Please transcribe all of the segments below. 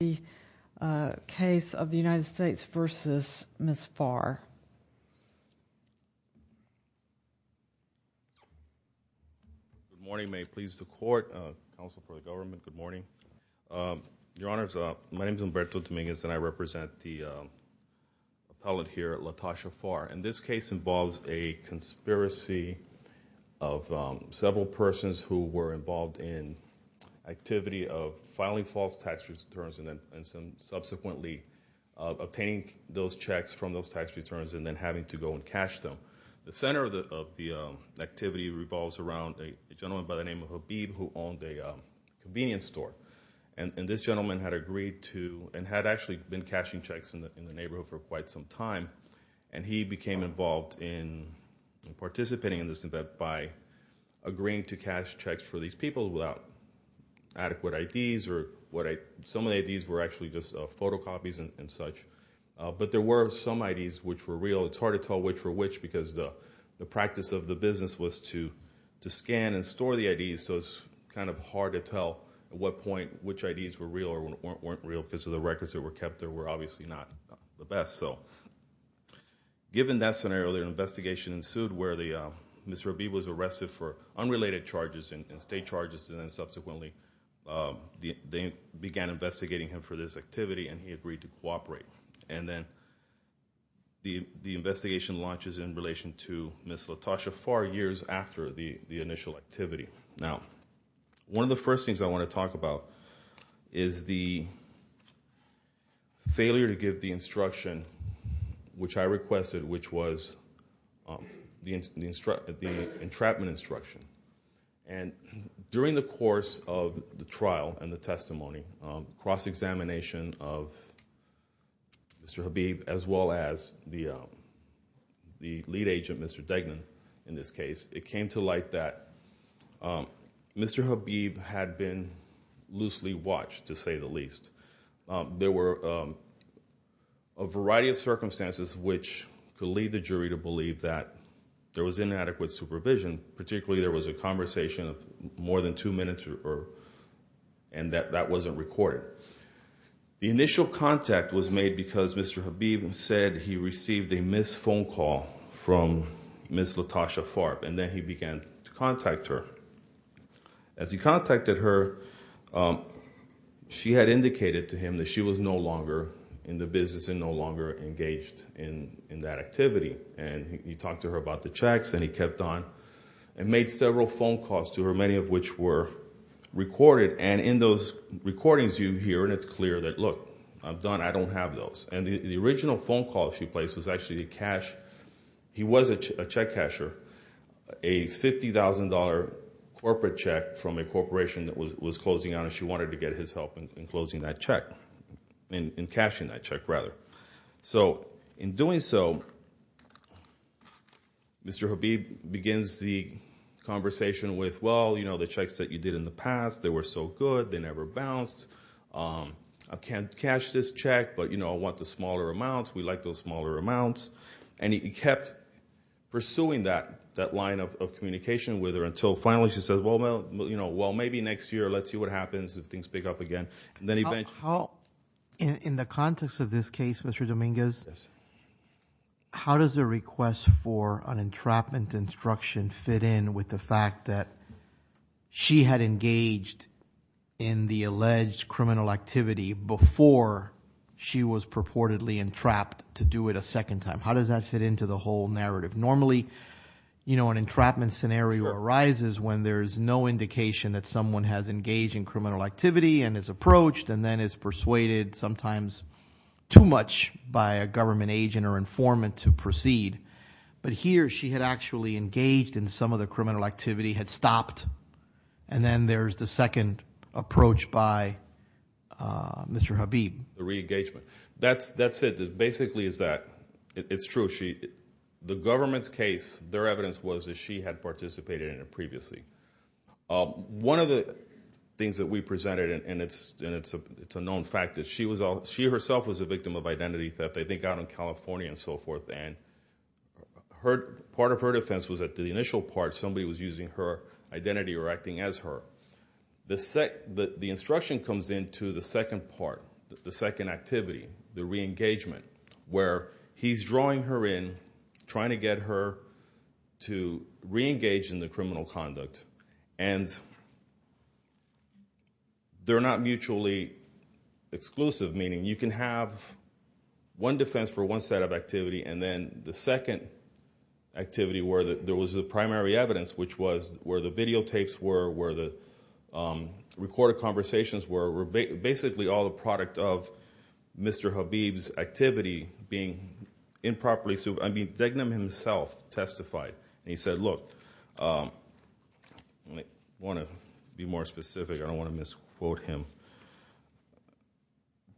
the case of the United States v. Ms. Farr. Good morning. May it please the court, counsel for the government, good morning. Your Honors, my name is Humberto Dominguez and I represent the appellate here, LaTosha Farr. And this case involves a conspiracy of several persons who were involved in activity of filing false tax returns and subsequently obtaining those checks from those tax returns and then having to go and cash them. The center of the activity revolves around a gentleman by the name of Habib who owned a convenience store. And this gentleman had agreed to, and had actually been cashing checks in the neighborhood for quite some time, and he became involved in participating in this event by agreeing to cash checks for these people without adequate IDs. Some of the IDs were actually just photocopies and such. But there were some IDs which were real. It's hard to tell which were which because the practice of the business was to scan and store the IDs, so it's kind of hard to tell at what point which IDs were real or weren't real because the records that were kept there were obviously not the best. Given that scenario, an investigation ensued where Mr. Habib was arrested for unrelated charges and state charges, and then subsequently they began investigating him for this activity and he agreed to cooperate. And then the investigation launches in relation to Ms. LaTosha four years after the initial activity. Now, one of the first things I want to talk about is the failure to give the instruction which I requested, which was the entrapment instruction. And during the course of the trial and the testimony, cross-examination of Mr. Habib as well as the lead agent, Mr. Degnan, in this case, it came to light that Mr. Habib had been loosely watched, to say the least. There were a variety of circumstances which could lead the jury to believe that there was inadequate supervision, particularly there was a conversation of more than two minutes and that that wasn't recorded. The initial contact was made because Mr. Habib said he received a missed phone call from Ms. LaTosha Farb and then he began to contact her. As he contacted her, she had indicated to him that she was no longer in the business and no longer engaged in that activity. And he talked to her about the checks and he kept on and made several phone calls to her, many of which were recorded. And in those recordings you hear and it's clear that, look, I'm done, I don't have those. And the original phone call she placed was actually a cash, he was a check casher, a $50,000 corporate check from a corporation that was closing out and she wanted to get his help in closing that check, in cashing that check, rather. So in doing so, Mr. Habib begins the conversation with, well, you know, the checks that you did in the past, they were so good, they never bounced. I can't cash this check, but, you know, I want the smaller amounts, we like those smaller amounts. And he kept pursuing that line of communication with her until finally she said, well, maybe next year, let's see what happens if things pick up again. In the context of this case, Mr. Dominguez, how does the request for an entrapment instruction fit in with the fact that she had engaged in the alleged criminal activity before she was purportedly entrapped to do it a second time? How does that fit into the whole narrative? Normally, you know, an entrapment scenario arises when there's no indication that someone has engaged in criminal activity and is approached and then is persuaded sometimes too much by a government agent or informant to proceed. But here, she had actually engaged in some of the criminal activity, had stopped, and then there's the second approach by Mr. Habib. The re-engagement. That's it. Basically, it's true. The government's case, their evidence was that she had participated in it previously. One of the things that we presented, and it's out in California and so forth, and part of her defense was that the initial part, somebody was using her identity or acting as her. The instruction comes into the second part, the second activity, the re-engagement, where he's drawing her in, trying to get her to re-engage in the criminal conduct. And they're not mutually exclusive, meaning you can have one defense for one set of activity, and then the second activity where there was the primary evidence, which was where the videotapes were, where the recorded conversations were, basically all the product of Mr. Habib's activity being improperly, I mean, Degnam himself testified. He said, look, I want to be more specific. I don't want to misquote him.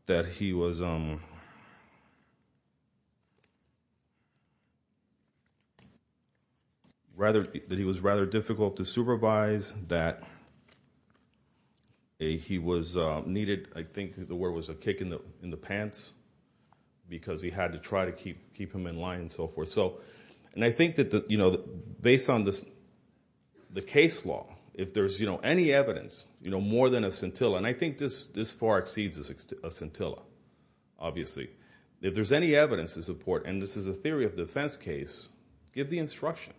That he was, rather, that he was rather difficult to supervise, that he was needed, I think the word was a kick in the pants, because he had to try to keep him in line and so forth. So, and I think that based on the case law, if there's any evidence, more than a scintilla, and I think this far exceeds a scintilla, obviously, if there's any evidence to support, and this is a theory of defense case, give the instruction.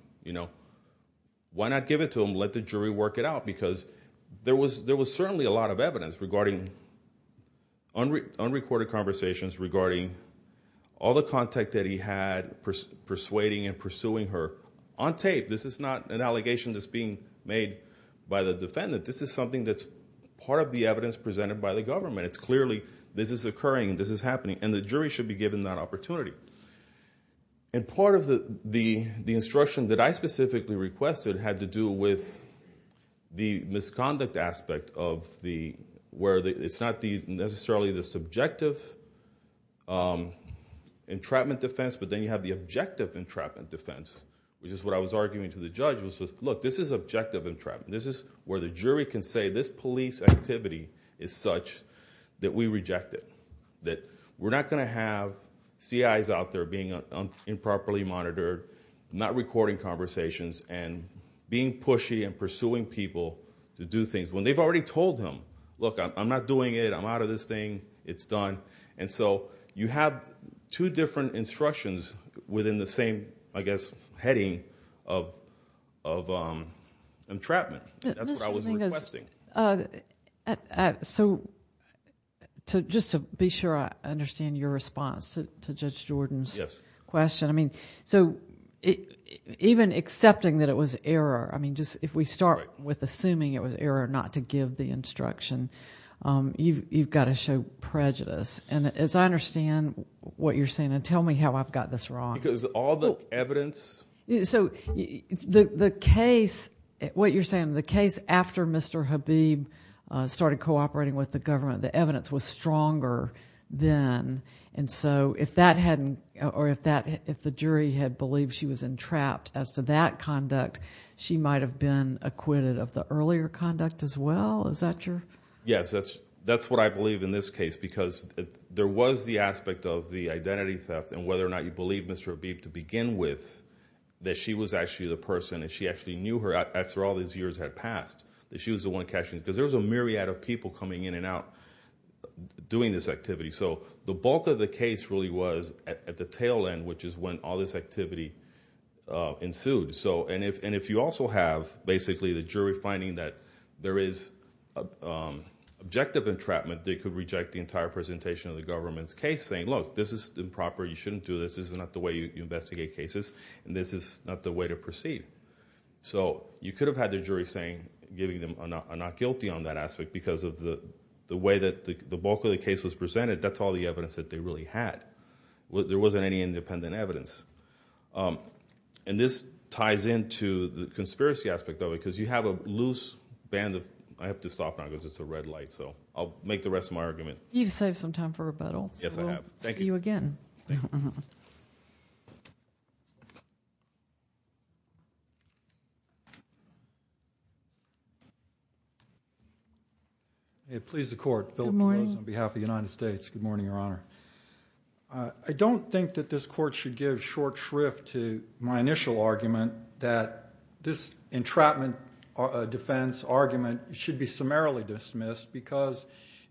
Why not give it to him, let the jury work it out, because there was certainly a lot of evidence regarding unrecorded conversations, regarding all the contact that he had, persuading and pursuing her on tape. This is not an allegation that's being made by the defendant. This is something that's part of the evidence presented by the government. It's clearly, this is occurring, this is happening, and the jury should be given that opportunity. And part of the instruction that I specifically requested had to do with the misconduct aspect of the, where it's not necessarily the subjective entrapment defense, but then you have the objective entrapment defense, which is what I was arguing to the jury, this is objective entrapment, this is where the jury can say this police activity is such that we reject it, that we're not going to have CIs out there being improperly monitored, not recording conversations, and being pushy and pursuing people to do things when they've already told him, look, I'm not doing it, I'm out of this thing, it's done, and so you have two different instructions within the same, I guess, heading of, of, of entrapment. That's what I was requesting. So just to be sure I understand your response to Judge Jordan's question, I mean, so even accepting that it was error, I mean, just if we start with assuming it was error not to give the instruction, you've got to show prejudice. And as I understand what you're saying, and tell me how I've got this wrong. Because all the evidence... So the, the case, what you're saying, the case after Mr. Habib started cooperating with the government, the evidence was stronger then, and so if that hadn't, or if that, if the jury had believed she was entrapped as to that conduct, she might have been acquitted of the earlier conduct as well? Is that your... Yes, that's, that's what I believe in this case, because there was the aspect of the that she was actually the person, and she actually knew her after all these years had passed, that she was the one catching, because there was a myriad of people coming in and out doing this activity. So the bulk of the case really was at the tail end, which is when all this activity ensued. So, and if, and if you also have basically the jury finding that there is objective entrapment, they could reject the entire presentation of the government's case saying, look, this is improper, you shouldn't do this, this is not the way you investigate cases, and this is not the way to proceed. So you could have had the jury saying, giving them a not guilty on that aspect, because of the way that the bulk of the case was presented, that's all the evidence that they really had. There wasn't any independent evidence. And this ties into the conspiracy aspect of it, because you have a loose band of, I have to stop now, because it's a red light, so I'll make the rest of my argument. You've saved some time for rebuttal. Yes, I have. Thank you. May it please the Court, Philip DeRose on behalf of the United States. Good morning, Your Honor. I don't think that this Court should give short shrift to my initial argument that this entrapment defense argument should be summarily dismissed, because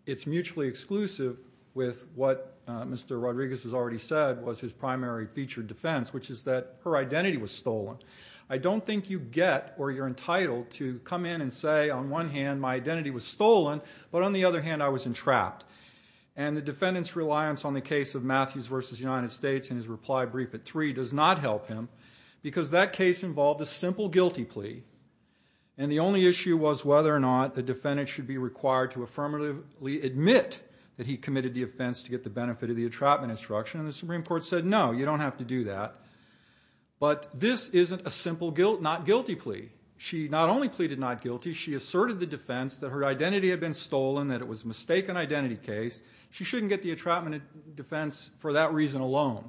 it's mutually exclusive with what Mr. Rodriguez has already said was his primary feature defense, which is that her identity was stolen. I don't think you get or you're entitled to come in and say, on one hand, my identity was stolen, but on the other hand, I was entrapped. And the defendant's reliance on the case of Matthews v. United States in his reply brief at three does not help him, because that case involved a simple guilty plea, and the only issue was whether or not the defendant should be required to affirmatively admit that he committed the offense to get the benefit of the entrapment instruction. And the Supreme Court said, no, you don't have to do that. But this isn't a simple not guilty plea. She not only pleaded not guilty, she asserted the defense that her identity had been stolen, that it was a mistaken identity case. She shouldn't get the entrapment defense for that reason alone.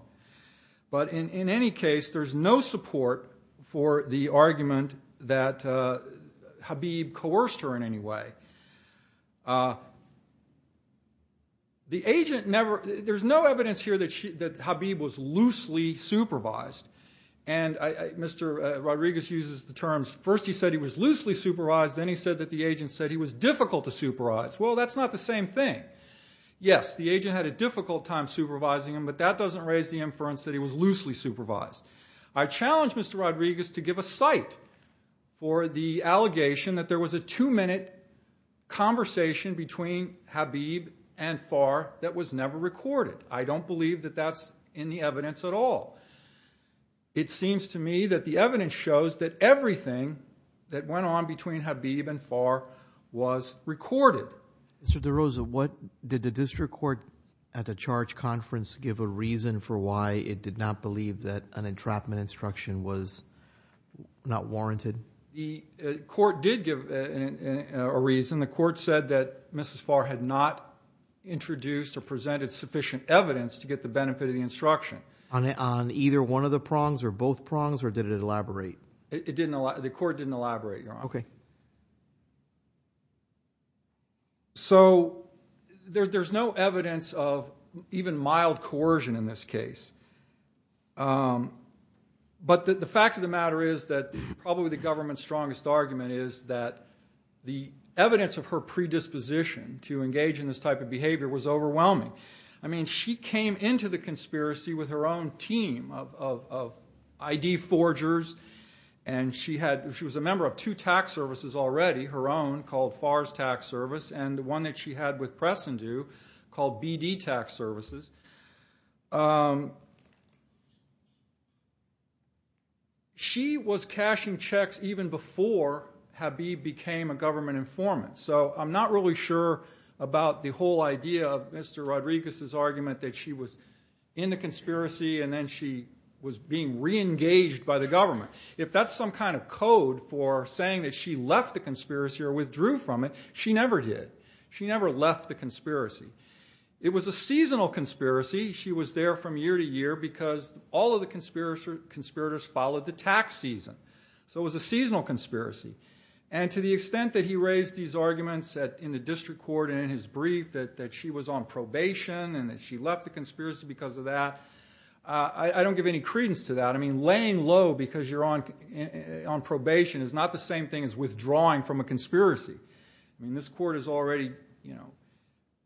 But in any case, there's no support for the argument that Habib coerced her in any way. The agent never, there's no evidence here that Habib was loosely supervised. And Mr. Rodriguez uses the terms, first he said he was loosely supervised, then he said that the agent said he was difficult to supervise. Well, that's not the same thing. Yes, the agent had a difficult time supervising him, but that doesn't raise the inference that he was loosely supervised. I challenge Mr. Rodriguez to give a cite for the allegation that there was a two-minute conversation between Habib and Farr that was never recorded. I don't believe that that's in the evidence at all. It seems to me that the evidence shows that everything that went on between Habib and Farr was recorded. Mr. DeRosa, what, did the district court at the charge conference give a reason for why it did not believe that an entrapment instruction was not warranted? The court did give a reason. The court said that Mrs. Farr had not introduced or presented sufficient evidence to get the benefit of the instruction. On either one of the prongs, or both prongs, or did it elaborate? It didn't, the court didn't elaborate, Your Honor. Okay. So, there's no evidence of even mild coercion in this case. But the fact of the matter is that probably the government's strongest argument is that the evidence of her predisposition to engage in this type of behavior was overwhelming. I mean, she came into the conspiracy with her own team of ID forgers, and she was a member of two tax services already, her own, called Farr's Tax Service, and the one that she had with Press & Do called BD Tax Services. She was cashing checks even before Habib became a government informant. So, I'm not really sure about the whole idea of Mr. Rodriguez's argument that she was in the conspiracy and then she was being reengaged by the government. If that's some kind of code for saying that she left the conspiracy or withdrew from it, she never did. She never left the conspiracy. It was a seasonal conspiracy. She was there from year to year because all of the conspirators followed the tax season. So, it was a seasonal conspiracy. And to the extent that he raised these arguments in the district court and in his brief that she was on probation and that she left the conspiracy because of that, I don't give any credence to that. I mean, laying low because you're on probation is not the same thing as withdrawing from a conspiracy. I mean, this court has already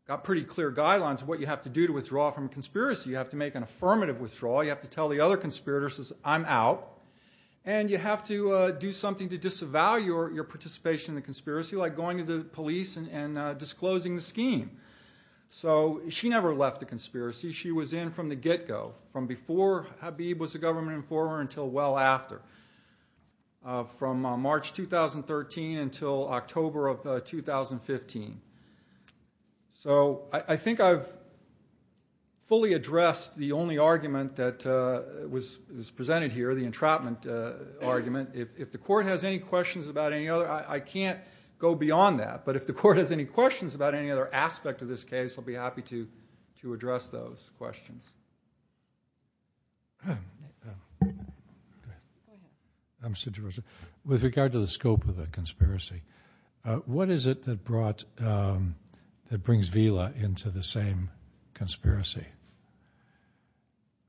got pretty clear guidelines of what you have to do to withdraw from a conspiracy. You have to make an affirmative withdrawal. You have to tell the other conspirators, I'm out. And you have to do something to disavow your participation in the conspiracy, like going to the police and disclosing the scheme. So, she never left the conspiracy. She was in from the get-go, from before Habib was a government informant until well after, from March 2013 until October of 2015. So, I think I've fully addressed the only argument that was presented here, the entrapment argument. If the court has any questions about any other, I can't go beyond that. But if the court has any questions about any other aspect of this case, I'll be happy to address those questions. With regard to the scope of the conspiracy, what is it that brought, that brings Vila into the same conspiracy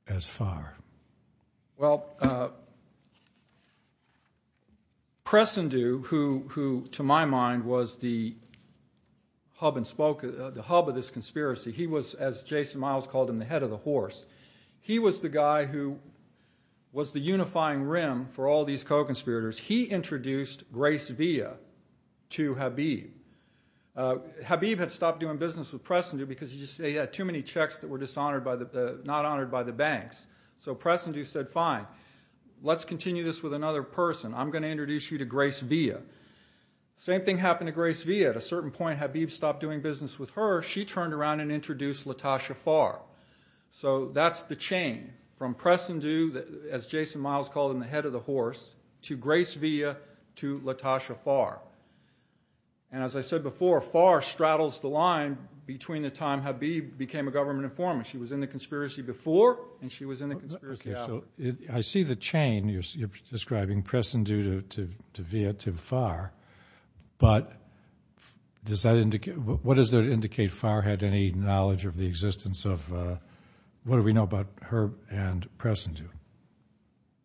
as Farr? Well, Pressendu, who to my mind was the hub of this conspiracy, he was, as Jason Miles called him, the head of the horse. He was the guy who was the unifying rim for all these co-conspirators. He introduced Grace Vila to Habib. Habib had stopped doing business with Pressendu because he had too many checks that were dishonored, not honored by the banks. So, Pressendu said, fine, let's continue this with another person. I'm going to introduce you to Grace Vila. Same thing happened to Grace Vila. At a certain point, Habib stopped doing business with her. She turned around and introduced Latasha Farr. So that's the chain from Pressendu, as Jason Miles called him, the head of the horse, to Grace Vila to Latasha Farr. And as I said before, Farr straddles the line between the time Habib became a government informant. She was in the conspiracy before and she was in the conspiracy after. I see the chain you're describing, Pressendu to Vila to Farr, but what does that indicate? Farr had any knowledge of the existence of, what do we know about her and Pressendu?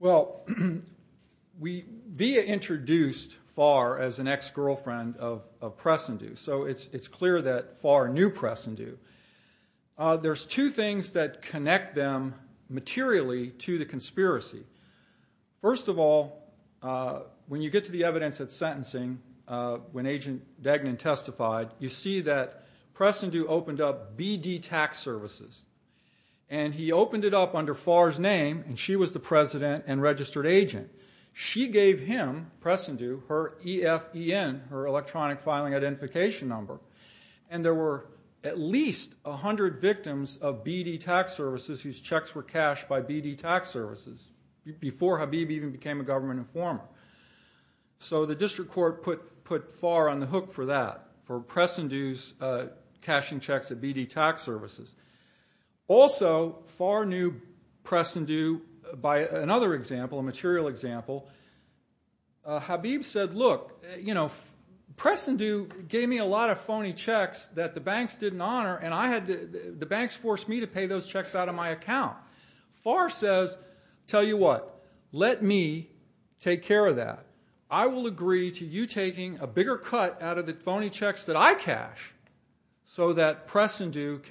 Well, Vila introduced Farr as an ex-girlfriend of Pressendu, so it's clear that Farr knew Pressendu. There's two things that connect them materially to the conspiracy. First of all, when you get to the evidence at sentencing, when Agent Dagnon testified, you see that Pressendu opened up BD Tax Services, and he opened it up under Farr's name, and she was the president and registered agent. She gave him, Pressendu, her EFEN, her electronic filing identification number, and there were at least 100 victims of BD Tax Services whose checks were cashed by BD Tax Services. Before Habib even became a government informer. So the district court put Farr on the hook for that, for Pressendu's cashing checks at BD Tax Services. Also, Farr knew Pressendu by another example, a material example. Habib said, look, you know, Pressendu gave me a lot of phony checks that the banks didn't honor, and the banks forced me to pay those checks out of my account. Farr says, tell you what, let me take care of that. I will agree to you taking a bigger cut out of the phony checks that I cash, so that Pressendu's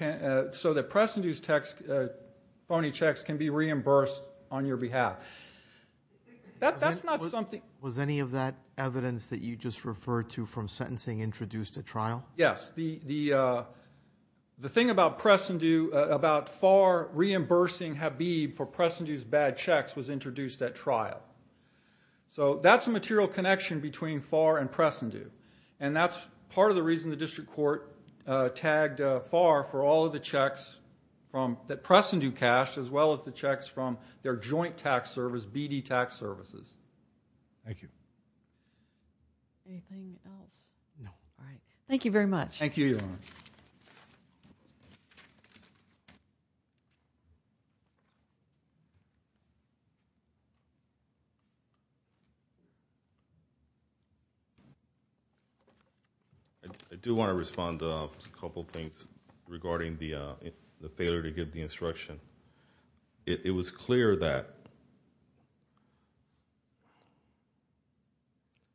phony checks can be reimbursed on your behalf. That's not something... Was any of that evidence that you just referred to from sentencing introduced at trial? Yes. The thing about Pressendu, about Farr reimbursing Habib for Pressendu's bad checks was introduced at trial. So that's a material connection between Farr and Pressendu, and that's part of the reason the district court tagged Farr for all of the checks that Pressendu cashed as well as the checks from their joint tax service, BD Tax Services. Thank you. Anything else? No. All right. Thank you very much. Thank you, Your Honor. I do want to respond to a couple things regarding the failure to give the instruction. It was clear that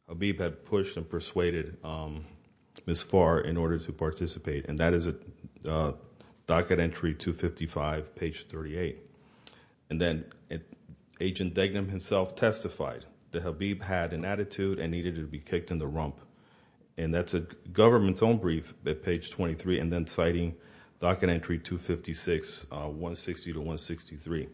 Habib had pushed and persuaded Ms. Farr in order to participate, and that is docket entry 255, page 38. And then Agent Degnam himself testified that Habib had an attitude and needed to be kicked in the rump, and that's a government's own brief at page 23, and then citing docket entry 256, 160 to 163.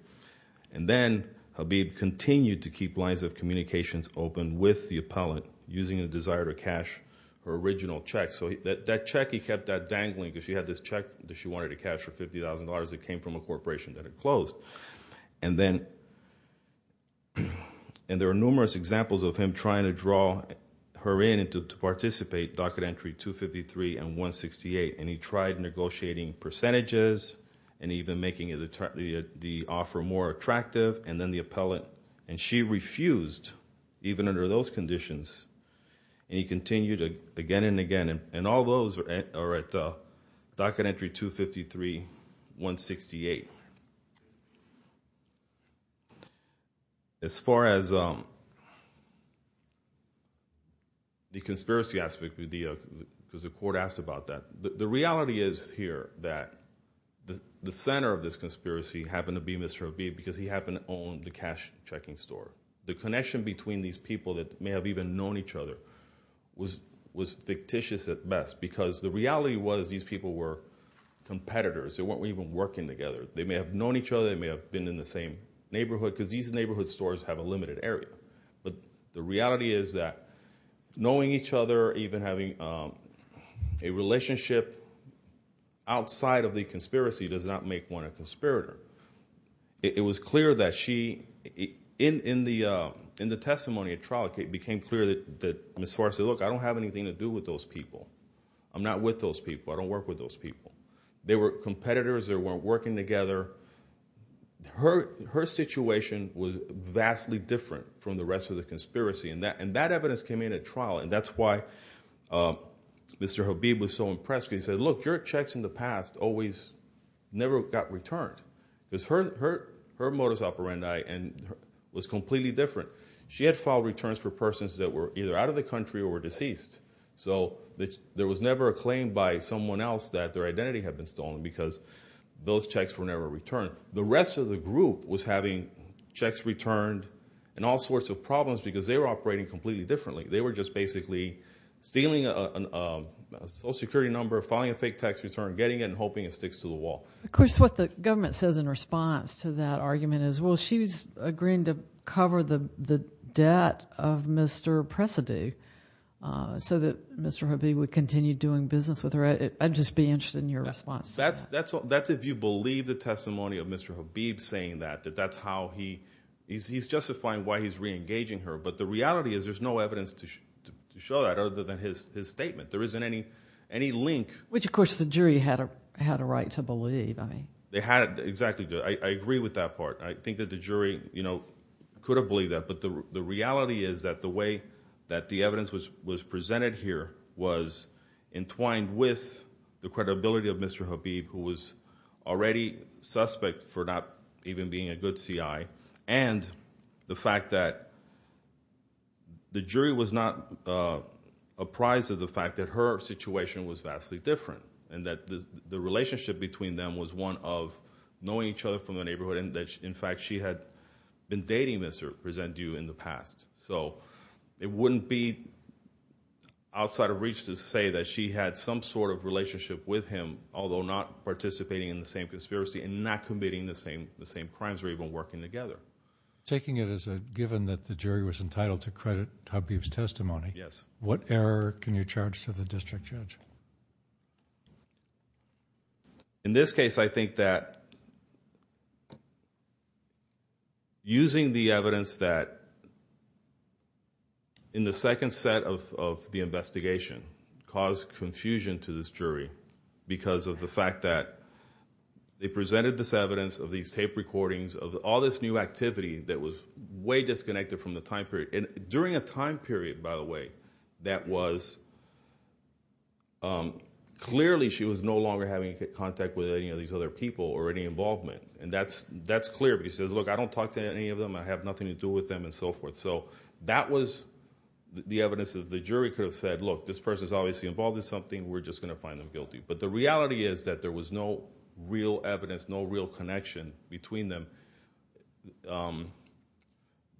And then Habib continued to keep lines of communications open with the appellant using a desire to cash her original check. So that check, he kept that dangling because she had this check that she wanted to cash for $50,000. It came from a corporation that had closed. And there are numerous examples of him trying to draw her in to participate, docket entry 253 and 168, and he tried negotiating percentages and even making the offer more attractive, and then the appellant, and she refused even under those conditions, and he continued again and again, and all those are at docket entry 253, 168. As far as the conspiracy aspect, because the court asked about that, the reality is here that the center of this conspiracy happened to be Mr. Habib because he happened to own the cash checking store. The connection between these people that may have even known each other was fictitious at best because the reality was these people were competitors. They weren't even working together. They may have known each other. They may have been in the same neighborhood because these neighborhood stores have a limited area, but the reality is that knowing each other, even having a relationship outside of the conspiracy does not make one a conspirator. It was clear that she, in the testimony at trial, it became clear that Ms. Farr said, look, I don't have anything to do with those people. I'm not with those people. I don't work with those people. They were competitors. They weren't working together. Her situation was vastly different from the rest of the conspiracy, and that evidence came in at trial, and that's why Mr. Habib was so impressed because he said, look, your checks in the past always never got returned. Her modus operandi was completely different. She had filed returns for persons that were either out of the country or were deceased, so there was never a claim by someone else that their identity had been stolen because those checks were never returned. The rest of the group was having checks returned and all sorts of problems because they were operating completely differently. They were just basically stealing a Social Security number, filing a fake tax return, getting it, and hoping it sticks to the wall. Of course, what the government says in response to that argument is, well, she's agreeing to cover the debt of Mr. Pressady so that Mr. Habib would continue doing business with her. I'd just be interested in your response to that. That's if you believe the testimony of Mr. Habib saying that, that that's how he's justifying why he's reengaging her. But the reality is there's no evidence to show that other than his statement. There isn't any link. Which, of course, the jury had a right to believe. They had exactly. I agree with that part. I think that the jury could have believed that, but the reality is that the way that the evidence was presented here was entwined with the credibility of Mr. Habib, who was already suspect for not even being a good CI, and the fact that the jury was not apprised of the fact that her situation was vastly different and that the relationship between them was one of knowing each other from the neighborhood and that, in fact, she had been dating Mr. Pressady in the past. So it wouldn't be outside of reach to say that she had some sort of relationship with him, although not participating in the same conspiracy and not committing the same crimes or even working together. Taking it as a given that the jury was entitled to credit Habib's testimony, what error can you charge to the district judge? In this case, I think that using the evidence that, in the second set of the investigation, caused confusion to this jury because of the fact that they presented this evidence of these tape recordings, of all this new activity that was way disconnected from the time period. During a time period, by the way, that was clearly she was no longer having contact with any of these other people or any involvement, and that's clear. But he says, look, I don't talk to any of them, I have nothing to do with them, and so forth. So that was the evidence that the jury could have said, look, this person is obviously involved in something, we're just going to find them guilty. But the reality is that there was no real evidence, no real connection between them.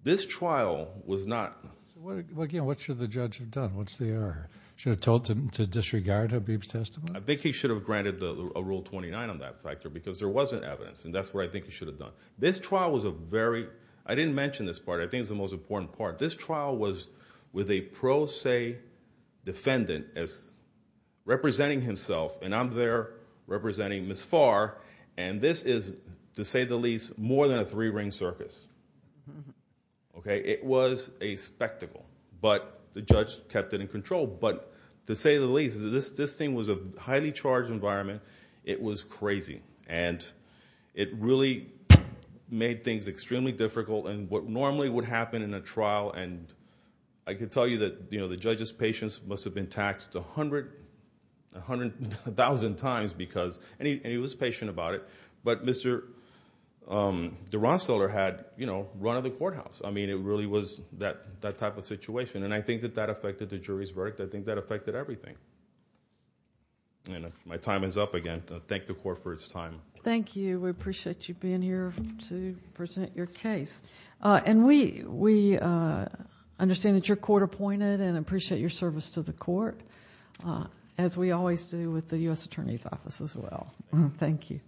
This trial was not— What should the judge have done? What's the error? Should have told him to disregard Habib's testimony? I think he should have granted a Rule 29 on that factor because there wasn't evidence, and that's what I think he should have done. This trial was a very—I didn't mention this part, I think it's the most important part. This trial was with a pro se defendant representing himself, and I'm there representing Ms. Farr, and this is, to say the least, more than a three-ring circus. It was a spectacle, but the judge kept it in control. But to say the least, this thing was a highly charged environment. It was crazy, and it really made things extremely difficult. And what normally would happen in a trial, and I can tell you that the judge's patience must have been taxed a hundred, a thousand times because—and he was patient about it. But Mr. DeRonstadler had run of the courthouse. It really was that type of situation, and I think that that affected the jury's verdict. I think that affected everything. My time is up again. I thank the Court for its time. Thank you. We appreciate you being here to present your case. We understand that you're court-appointed and appreciate your service to the court, as we always do with the U.S. Attorney's Office as well. Thank you.